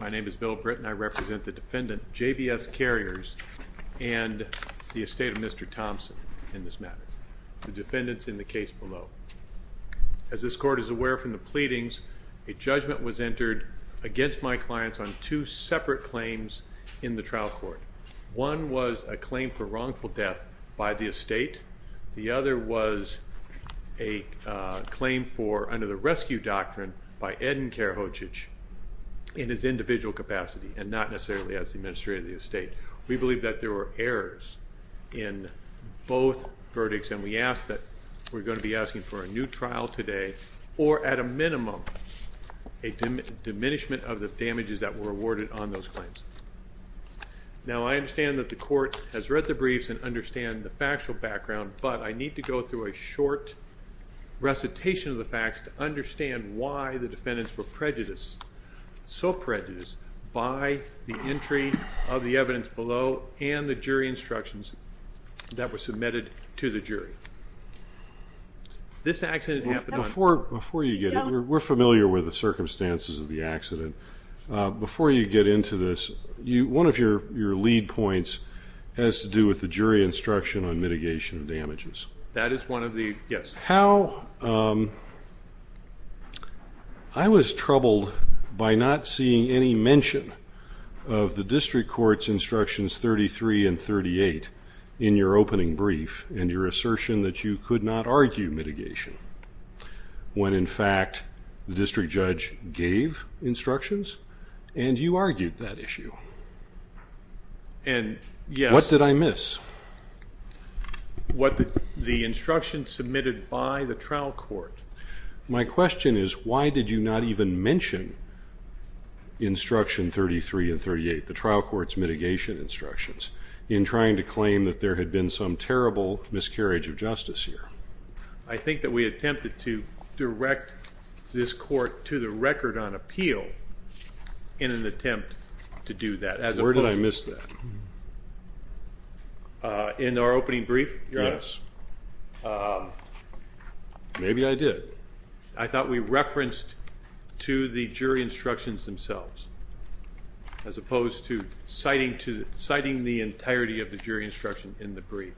My name is Bill Britton. I represent the defendant, JBS Carriers, and the estate of Mr. Thompson in this matter, the defendants in the case below. As this court is aware from the pleadings, a judgment was entered against my clients on two separate claims in the trial court. One was a claim for wrongful death by the estate. The other was a claim for, under the and not necessarily as the administrator of the estate. We believe that there were errors in both verdicts and we ask that we're going to be asking for a new trial today or at a minimum a diminishment of the damages that were awarded on those claims. Now I understand that the court has read the briefs and understand the factual background, but I need to go through a short recitation of the facts to understand why the defendants were prejudiced, so prejudiced by the entry of the evidence below and the jury instructions that were submitted to the jury. This accident happened on... Before you get into it, we're familiar with the circumstances of the accident. Before you get into this, one of your lead points has to do with the jury instruction on mitigation of damages. That is one of the, yes. How... I was troubled by not seeing any mention of the district court's instructions 33 and 38 in your opening brief and your assertion that you could not argue mitigation, when in fact the district judge gave instructions and you argued that issue. And yes... What did I miss? What the instructions submitted by the trial court. My question is why did you not even mention instruction 33 and 38, the trial court's mitigation instructions, in trying to claim that there had been some terrible miscarriage of justice here? I think that we attempted to direct this court to the record on appeal in an attempt to do that. Where did I miss that? In our opening brief, your Honor? Yes. Maybe I did. I thought we referenced to the jury instructions themselves, as opposed to citing the entirety of the jury instruction in the brief.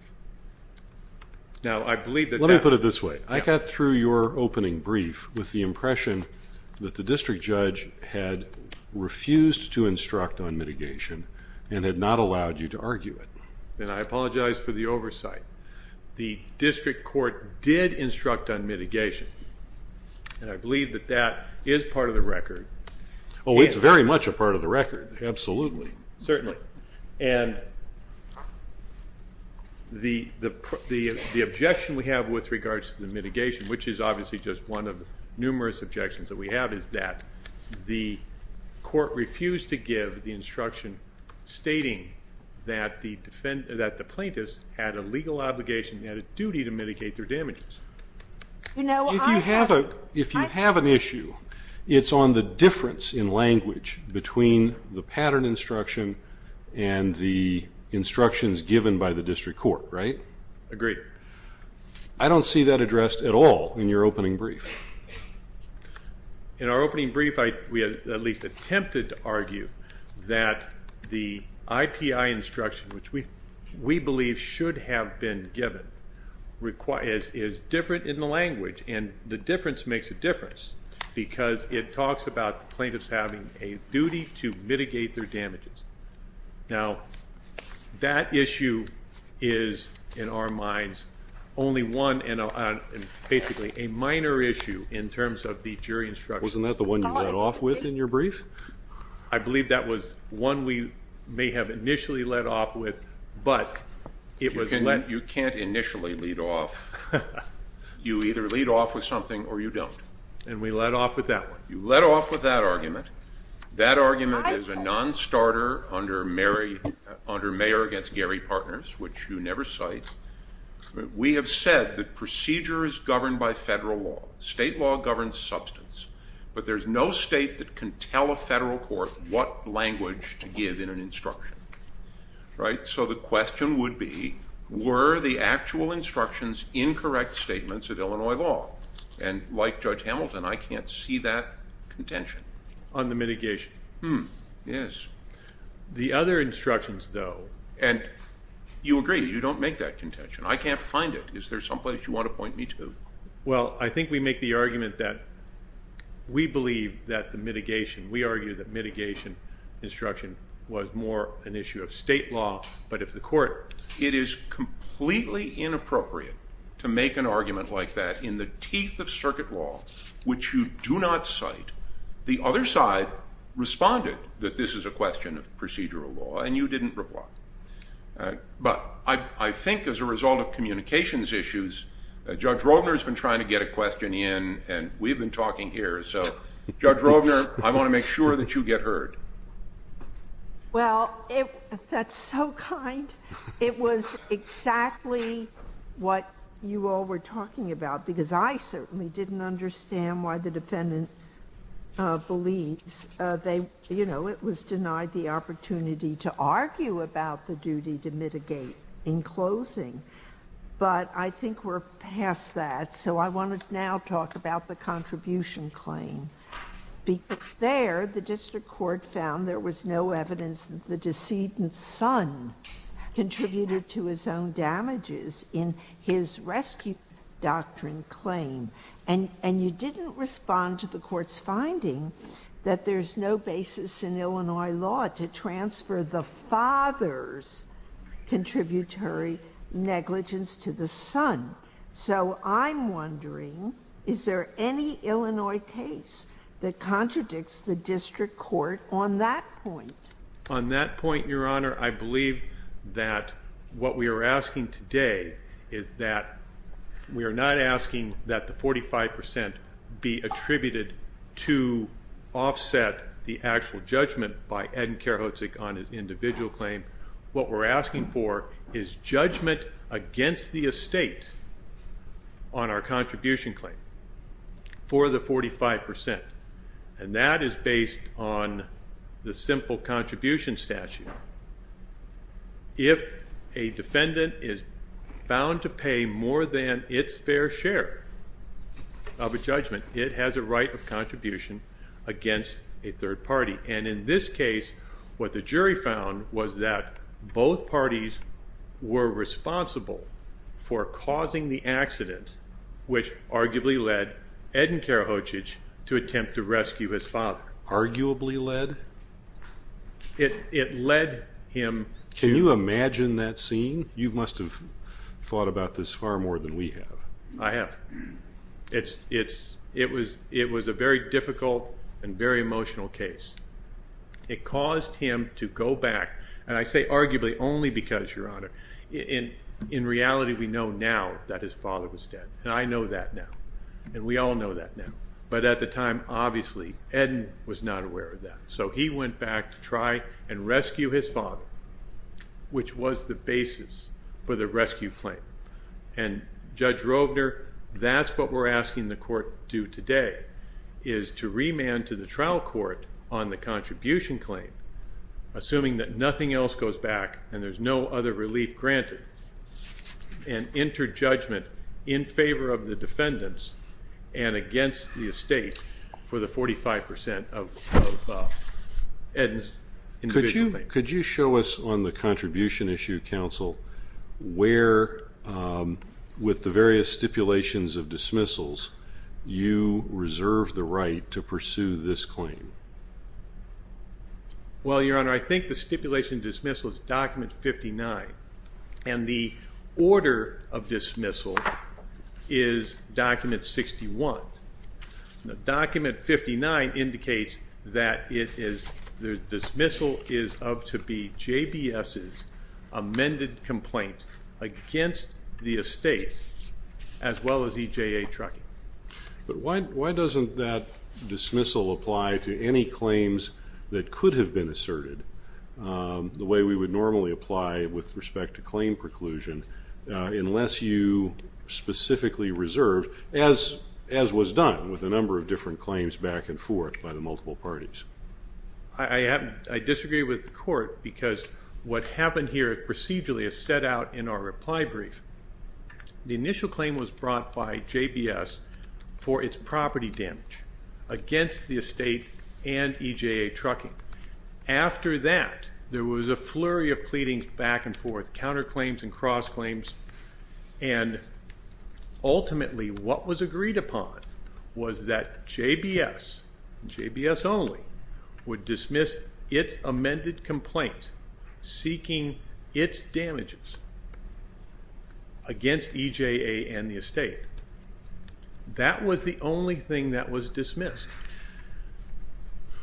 Now, I believe that... Let me put it this way. I got through your opening brief with the impression that the district judge gave instruction and had not allowed you to argue it. And I apologize for the oversight. The district court did instruct on mitigation. And I believe that that is part of the record. Oh, it's very much a part of the record. Absolutely. Certainly. And the objection we have with regards to the mitigation, which is obviously just one of the numerous objections that we have, is that the court refused to give the instruction stating that the plaintiffs had a legal obligation and had a duty to mitigate their damages. If you have an issue, it's on the difference in language between the pattern instruction and the instructions given by the district court, right? Agreed. I don't see that addressed at all in your opening brief. In our opening brief, we at least attempted to argue that the IPI instruction, which we believe should have been given, is different in the language. And the difference makes a difference, because it talks about the plaintiffs having a duty to mitigate their damages. Now, that issue is, in our minds, only one and basically a minor issue. In terms of the jury instruction. Wasn't that the one you led off with in your brief? I believe that was one we may have initially led off with, but it was led... You can't initially lead off. You either lead off with something or you don't. And we led off with that one. You led off with that argument. That argument is a non-starter under Mayor Against Gary State. State law governs substance, but there's no state that can tell a federal court what language to give in an instruction, right? So the question would be, were the actual instructions incorrect statements of Illinois law? And like Judge Hamilton, I can't see that contention. On the mitigation. Yes. The other instructions, though... And you agree, you don't make that contention. I can't find it. Is there someplace you want to point me to? Well, I think we make the argument that we believe that the mitigation, we argue that mitigation instruction was more an issue of state law. But if the court... It is completely inappropriate to make an argument like that in the teeth of circuit law, which you do not cite. The other side responded that this is a question of procedural law and you didn't reply. But I think as a result of communications issues, Judge Rovner has been trying to get a question in and we've been talking here. So, Judge Rovner, I want to make sure that you get heard. Well, that's so kind. It was exactly what you all were talking about, because I certainly didn't understand why the defendant believes they, you know, it was denied the opportunity to argue about the duty to mitigate in closing. But I think we're past that. So I want to now talk about the contribution claim. There, the district court found there was no evidence that the decedent's son contributed to his own damages in his rescue doctrine claim. And you didn't respond to the court's finding that there's no basis in Illinois law to transfer the father's contributory negligence to the son. So I'm wondering, is there any Illinois case that contradicts the district court on that point? On that point, Your Honor, I believe that what we are asking today is that we are not asking that the 45% be attributed to offset the actual judgment by Ed and Kerhotzik on his individual claim. What we're asking for is judgment against the estate on our contribution claim for the 45%. And that is based on the simple contribution statute. If a defendant is bound to pay more than its fair share of a judgment, it has a right of contribution against a third party. And in this case, what the jury found was that both parties were responsible for causing the accident, which arguably led Ed and Kerhotzik to attempt to rescue his father. Arguably led? It led him to... You must have thought about this far more than we have. I have. It was a very difficult and very emotional case. It caused him to go back, and I say arguably only because, Your Honor, in reality we know now that his father was dead. And I know that now. And we all know that now. But at the time, obviously, Ed was not aware of that. So he went back to try and rescue his father, which was the basis for the rescue claim. And Judge Rovner, that's what we're asking the court to do today, is to remand to the trial court on the contribution claim, assuming that nothing else goes back and there's no other relief granted, and enter judgment in favor of the defendants and against the 45% of Ed's individual claims. Could you show us on the contribution issue, counsel, where, with the various stipulations of dismissals, you reserve the right to pursue this claim? Well, Your Honor, I think the stipulation of dismissal is document 59. And the order of dismissal is document 61. Document 59 indicates that the dismissal is of to be JBS's amended complaint against the estate, as well as EJA Trucking. But why doesn't that dismissal apply to any claims that could have been asserted the way we would normally apply with respect to claim preclusion, unless you specifically reserve, as was done with a number of different claims back and forth by the multiple parties? I disagree with the court, because what happened here procedurally is set out in our reply brief. The initial claim was brought by JBS for its property damage against the estate and EJA Trucking. After that, there was a flurry of pleadings back and forth, counter claims and cross claims. And ultimately, what was agreed upon was that JBS, JBS only, would dismiss its amended complaint seeking its damages against EJA and the estate. That was the only thing that was dismissed.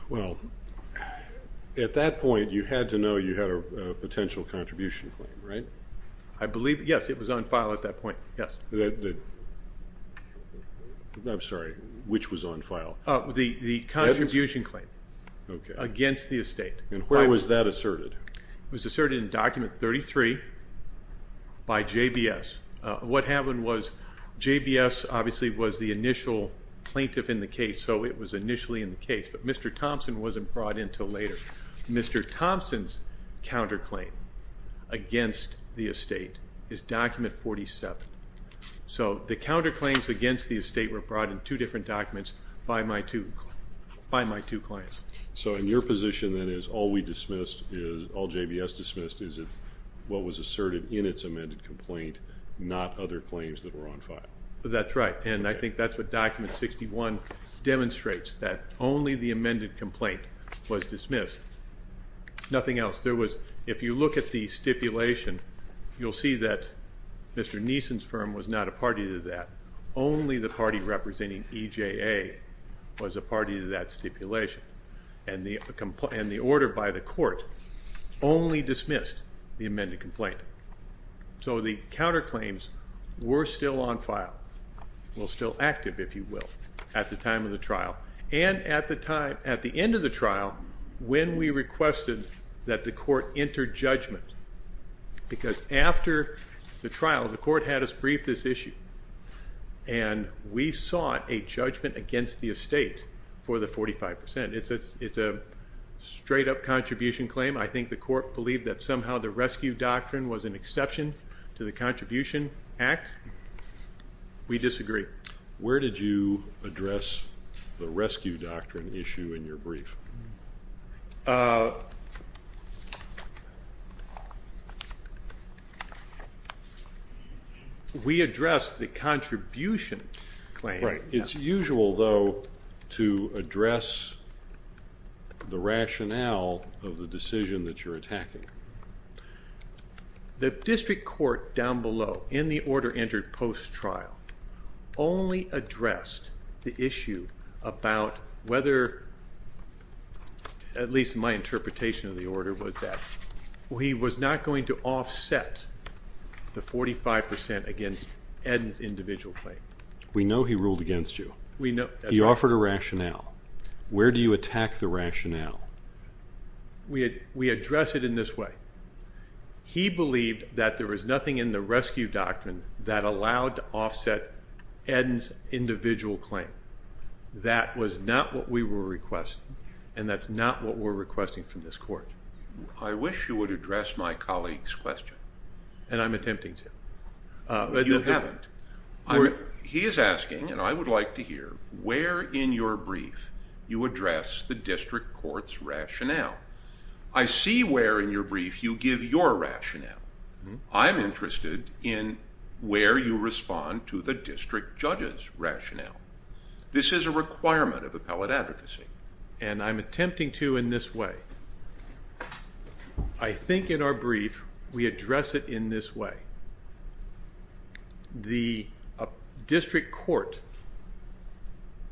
Well, at that point, you had to know you had a potential contribution claim, right? I believe, yes, it was on file at that point, yes. I'm sorry, which was on file? The contribution claim against the estate. And where was that asserted? It was asserted in document 33 by JBS. What happened was JBS obviously was the initial plaintiff in the case, so it was initially in the case. But Mr. Thompson wasn't brought in until later. Mr. Thompson's counterclaim against the estate is document 47. So the counterclaims against the estate were brought in two different documents by my two clients. So in your position, then, is all we dismissed, all JBS dismissed, is what was asserted in its amended complaint, not other claims that were on file? That's right. And I think that's what document 61 demonstrates, that only the amended complaint was dismissed. Nothing else. There was, if you look at the stipulation, you'll see that Mr. Neeson's firm was not a party to that. Only the party representing EJA was a party to that stipulation. And the order by the court only dismissed the amended complaint. So the counterclaims were still on file. Well, still active, if you will, at the time of the trial. And at the time, at the end of the trial, when we requested that the court enter judgment, because after the trial, the court had us brief this issue, and we sought a judgment against the estate for the 45%. It's a straight-up contribution claim. I think the court believed that somehow the Rescue Doctrine was an exception to the Contribution Act. We disagree. Where did you address the Rescue Doctrine issue in your brief? We addressed the contribution claim. It's usual, though, to address the rationale of the decision that you're attacking. The district court down below in the order entered post-trial only addressed the issue about whether, at least my interpretation of the order was that he was not going to offset the 45% against Eden's individual claim. We know he ruled we address it in this way. He believed that there was nothing in the Rescue Doctrine that allowed to offset Eden's individual claim. That was not what we were requesting, and that's not what we're requesting from this court. I wish you would address my colleague's question. And I'm attempting to. You haven't. He is asking, and I would like to hear, where in your brief you address the rationale. I see where in your brief you give your rationale. I'm interested in where you respond to the district judge's rationale. This is a requirement of appellate advocacy. And I'm attempting to in this way. I think in our brief we address it in this way. The district court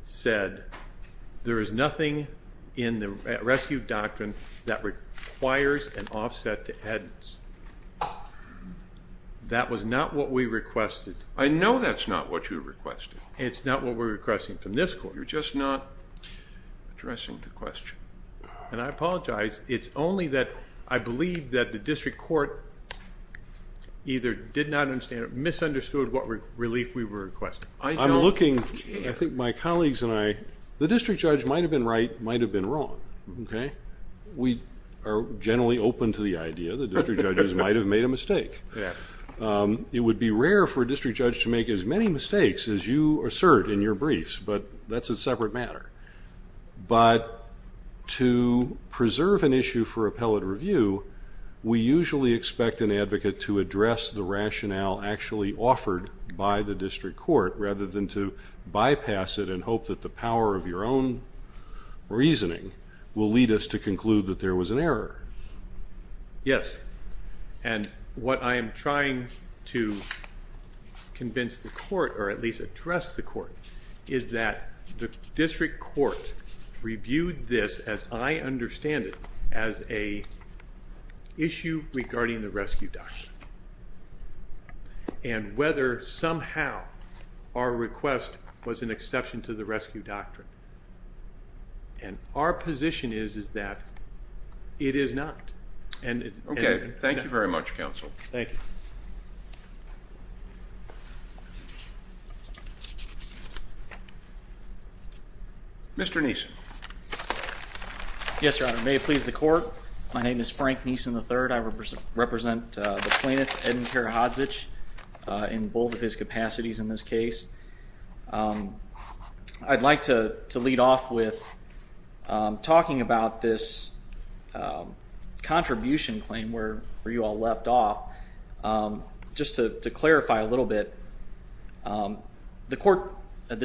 said there is nothing in the Rescue Doctrine that requires to offset the Eden's. That was not what we requested. I know that's not what you requested. It's not what we're requesting from this court. You're just not addressing the question. And I apologize. It's only that I believe that the district court either did not understand or misunderstood what relief we were requesting. I'm looking, I think my colleagues and I, the district judge might have been right, might have been wrong. We are generally open to the idea that district judges might have made a mistake. It would be rare for a district judge to make as many mistakes as you assert in your briefs, but that's a separate matter. But to preserve an issue for appellate review, we usually expect an advocate to address the rationale actually offered by the district court rather than to bypass it and hope that the power of your own reasoning will lead us to conclude that there was an error. Yes. And what I am trying to convince the court, or at least address the court, is that the district court reviewed this, as I understand it, as an issue regarding the Rescue Doctrine. And whether somehow our request was an exception to the Rescue Doctrine. And our position is that it is not. Okay. Thank you very much, counsel. Mr. Neeson. Yes, Your Honor. May it please the court, my name is Frank Neeson III. I represent the plaintiff, Eden Karahodzic, in both of his capacities in this case. I'd like to lead off with talking about this contribution claim where you all left off. Just to clarify a little bit, the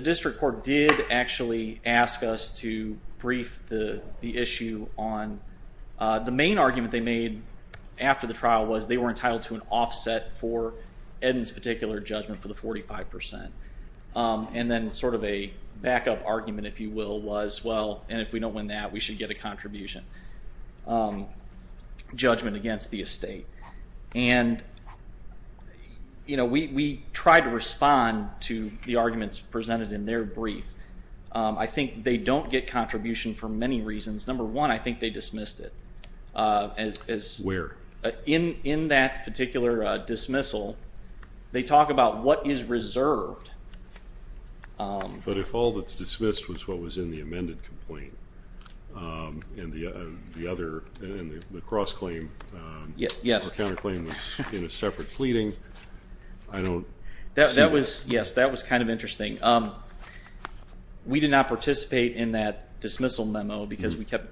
district court did actually ask us to brief the issue on, the main argument they made after the trial was they were entitled to an offset for Eden's particular judgment for the 45%. And then sort of a backup argument, if you will, was, well, and if we don't win that we should get a contribution judgment against the estate. And we tried to respond to the arguments presented in their brief. I think they don't get contribution for many reasons. Number one, I think they dismissed it. Where? In that particular dismissal, they talk about what is reserved. But if all that's dismissed was what was in the amended complaint, and the other, the cross-claim or counter-claim was in a separate pleading, I don't see that. That was, yes, that was kind of interesting. We did not participate in that dismissal memo because we kept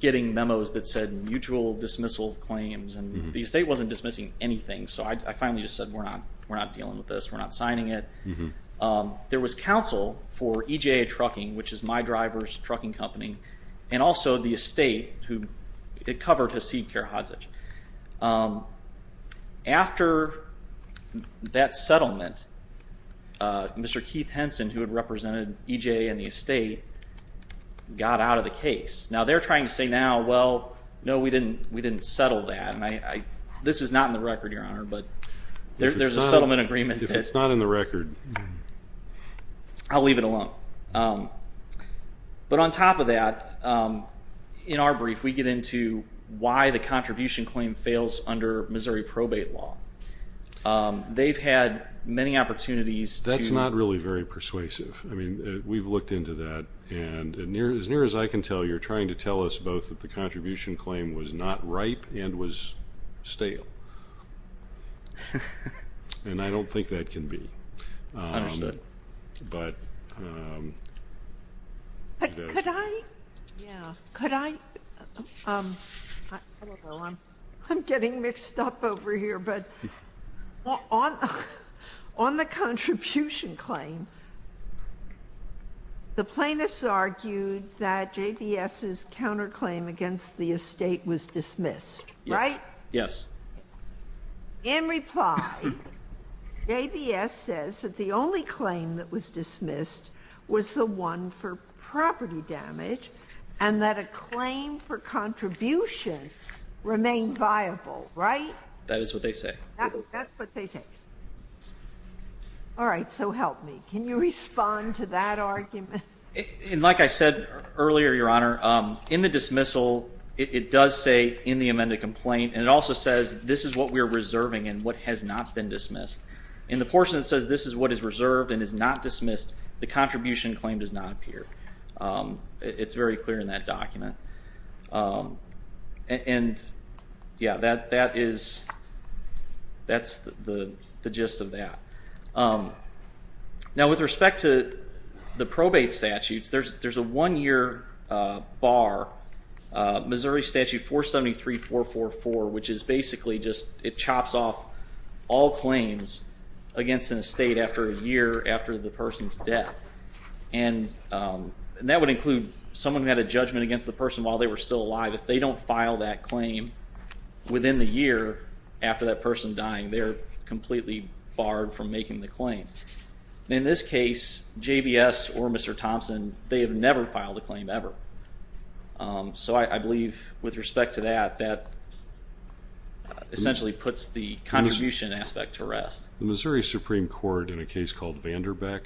getting memos that said mutual dismissal claims, and the estate wasn't dismissing anything. So I finally just said, we're not dealing with this, we're not signing it. There was counsel for EJA Trucking, which is my driver's trucking company, and also the estate who, it covered Hasid Karadzic. After that settlement, Mr. Keith Henson, who had represented EJA and the estate, got out of the case. Now they're trying to say now, well, no, we didn't settle that. This is not in the record, Your Honor, but there's a settlement agreement that's- If it's not in the record. I'll leave it alone. But on top of that, in our brief, we get into why the contribution claim fails under Missouri probate law. They've had many opportunities to- That's not really very persuasive. I mean, we've looked into that, and as near as I can tell, you're trying to tell us both that the contribution claim was not ripe and was stale, and I don't think that can be. I understand. But- Could I? Yeah. Could I? I don't know. I'm getting mixed up over here, but on the contribution claim, the plaintiffs argued that JBS's counterclaim against the estate was dismissed, right? Yes. In reply, JBS says that the only claim that was dismissed was the one for property damage, and that a claim for contribution remained viable, right? That is what they say. That's what they say. All right. So help me. Can you respond to that argument? And like I said earlier, Your Honor, in the dismissal, it does say in the amended complaint, and it also says this is what we are reserving and what has not been dismissed. In the portion that says this is what is reserved and is not dismissed, the contribution claim does not appear. It's very clear in that document. And yeah, that is, that's the gist of that. Now with respect to the probate statutes, there's a one-year bar. Missouri Statute 473-444, which is basically just, it chops off all claims against an estate after a year after the person's death. And that would include someone who had a judgment against the person while they were still alive. If they don't file that claim within the year after that person dying, they're completely barred from making the claim. In this case, JBS or Mr. Thompson, they have never filed a claim ever. So I believe with respect to that, that essentially puts the contribution aspect to rest. The Missouri Supreme Court, in a case called Vanderbeck,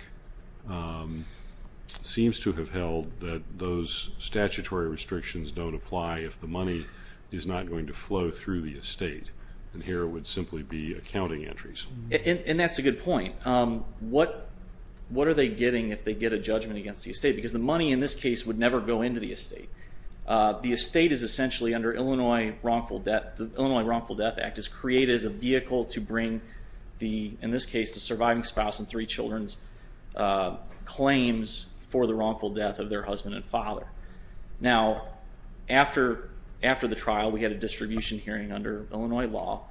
seems to have held that those statutory restrictions don't apply if the money is not going to flow through the estate. And here it would simply be accounting entries. And that's a good point. What are they getting if they get a judgment against the estate? Because the money in this case would never go into the estate. The estate is essentially under Illinois Wrongful Death, the Illinois Wrongful Death Act is created as a vehicle to bring the, in this case, the surviving spouse and three children's claims for the wrongful death of their husband and father. Now after the trial, we had a distribution hearing under Illinois law.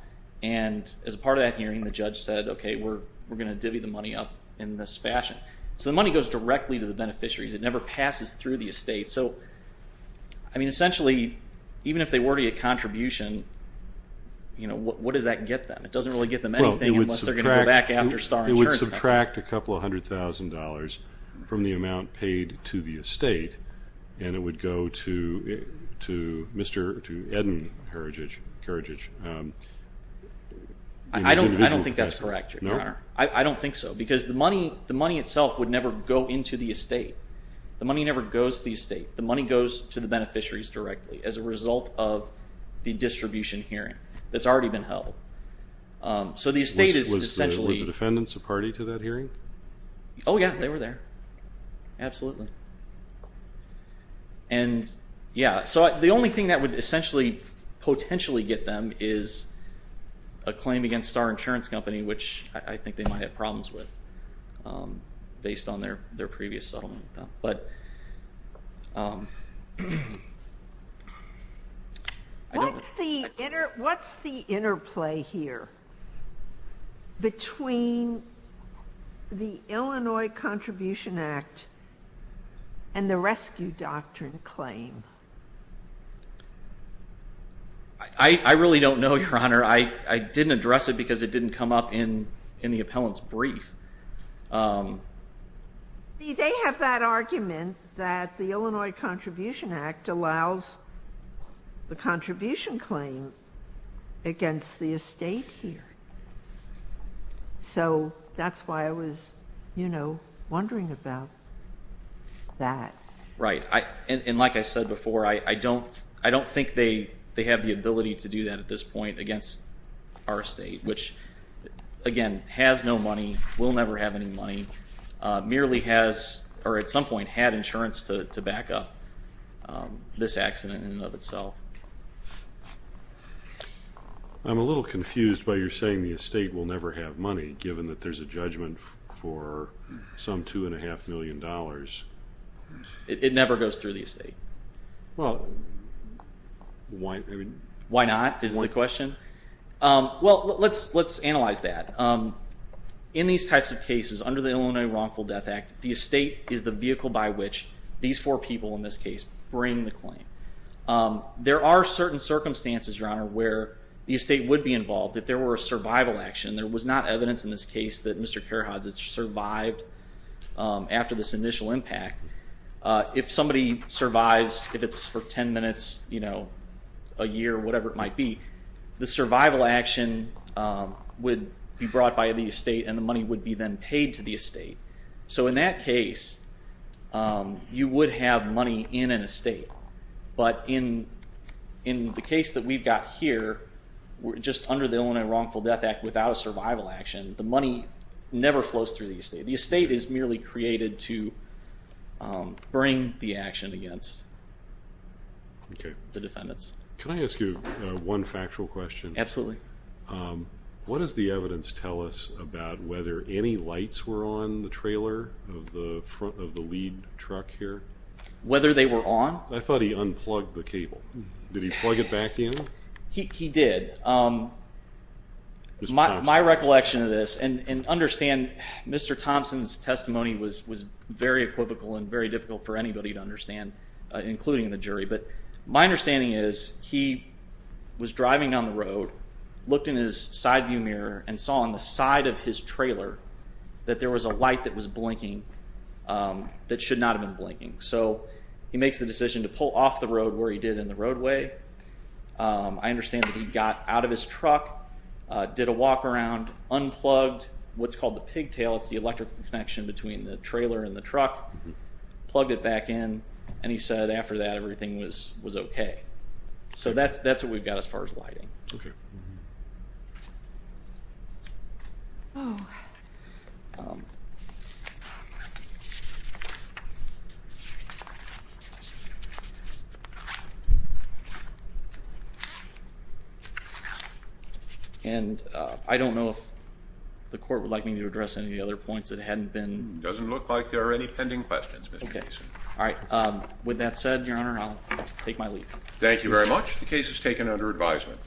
And as a part of that hearing, the judge said, okay, we're going to divvy the money up in this fashion. So the money goes directly to the beneficiaries. It never passes through the estate. So I mean, essentially, even if they were to get a contribution, what does that get them? It doesn't really get them anything unless they're going to go back after Star Insurance Company. It would subtract a couple of hundred thousand dollars from the amount paid to the estate, and it would go to Mr. Eden Karadzic. I don't think that's correct, Your Honor. I don't think so. Because the money itself would never go into the estate. The money never goes to the estate. The money goes to the beneficiaries directly as a result of the distribution hearing that's already been held. So the estate is essentially... Were the defendants a party to that hearing? Oh yeah, they were there, absolutely. And yeah, so the only thing that would essentially potentially get them is a claim against Star Insurance Company, which I think they might have problems with based on their previous settlement with them. But... I don't... What's the interplay here between the Illinois Contribution Act and the Rescue Doctrine claim? I really don't know, Your Honor. I didn't address it because it didn't come up in the appellant's brief. See, they have that argument that the Illinois Contribution Act allows the contribution claim against the estate here. So that's why I was, you know, wondering about that. Right. And like I said before, I don't think they have the ability to do that at this point against our estate, which again, has no money, will never have any money, merely has or at some point had insurance to back up this accident in and of itself. I'm a little confused by your saying the estate will never have money, given that there's a judgment for some two and a half million dollars. It never goes through the estate. Well... Why? I mean... Well, let's analyze that. In these types of cases, under the Illinois Wrongful Death Act, the estate is the vehicle by which these four people, in this case, bring the claim. There are certain circumstances, Your Honor, where the estate would be involved if there were a survival action. There was not evidence in this case that Mr. Karahadzic survived after this initial impact. If somebody survives, if it's for 10 minutes, a year, whatever it might be, the survival action would be brought by the estate and the money would be then paid to the estate. So in that case, you would have money in an estate. But in the case that we've got here, just under the Illinois Wrongful Death Act without a survival action, the money never flows through the estate. The estate is merely created to bring the action against the defendants. Can I ask you one factual question? Absolutely. What does the evidence tell us about whether any lights were on the trailer of the lead truck here? Whether they were on? I thought he unplugged the cable. Did he plug it back in? He did. My recollection of this, and understand Mr. Thompson's testimony was very equivocal and very difficult for anybody to understand, including the jury. But my understanding is he was driving on the road, looked in his side view mirror and saw on the side of his trailer that there was a light that was blinking that should not have been blinking. So he makes the decision to pull off the road where he did in the roadway. I understand that he got out of his truck, did a walk around, unplugged what's called the pigtail, it's the electrical connection between the trailer and the truck, plugged it back in, and he said after that everything was okay. So that's what we've got as far as lighting. And I don't know if the court would like me to address any of the other points that hadn't been... It doesn't look like there are any pending questions, Mr. Mason. Okay. All right. With that said, Your Honor, I'll take my leave. Thank you very much. The case is taken under advisement.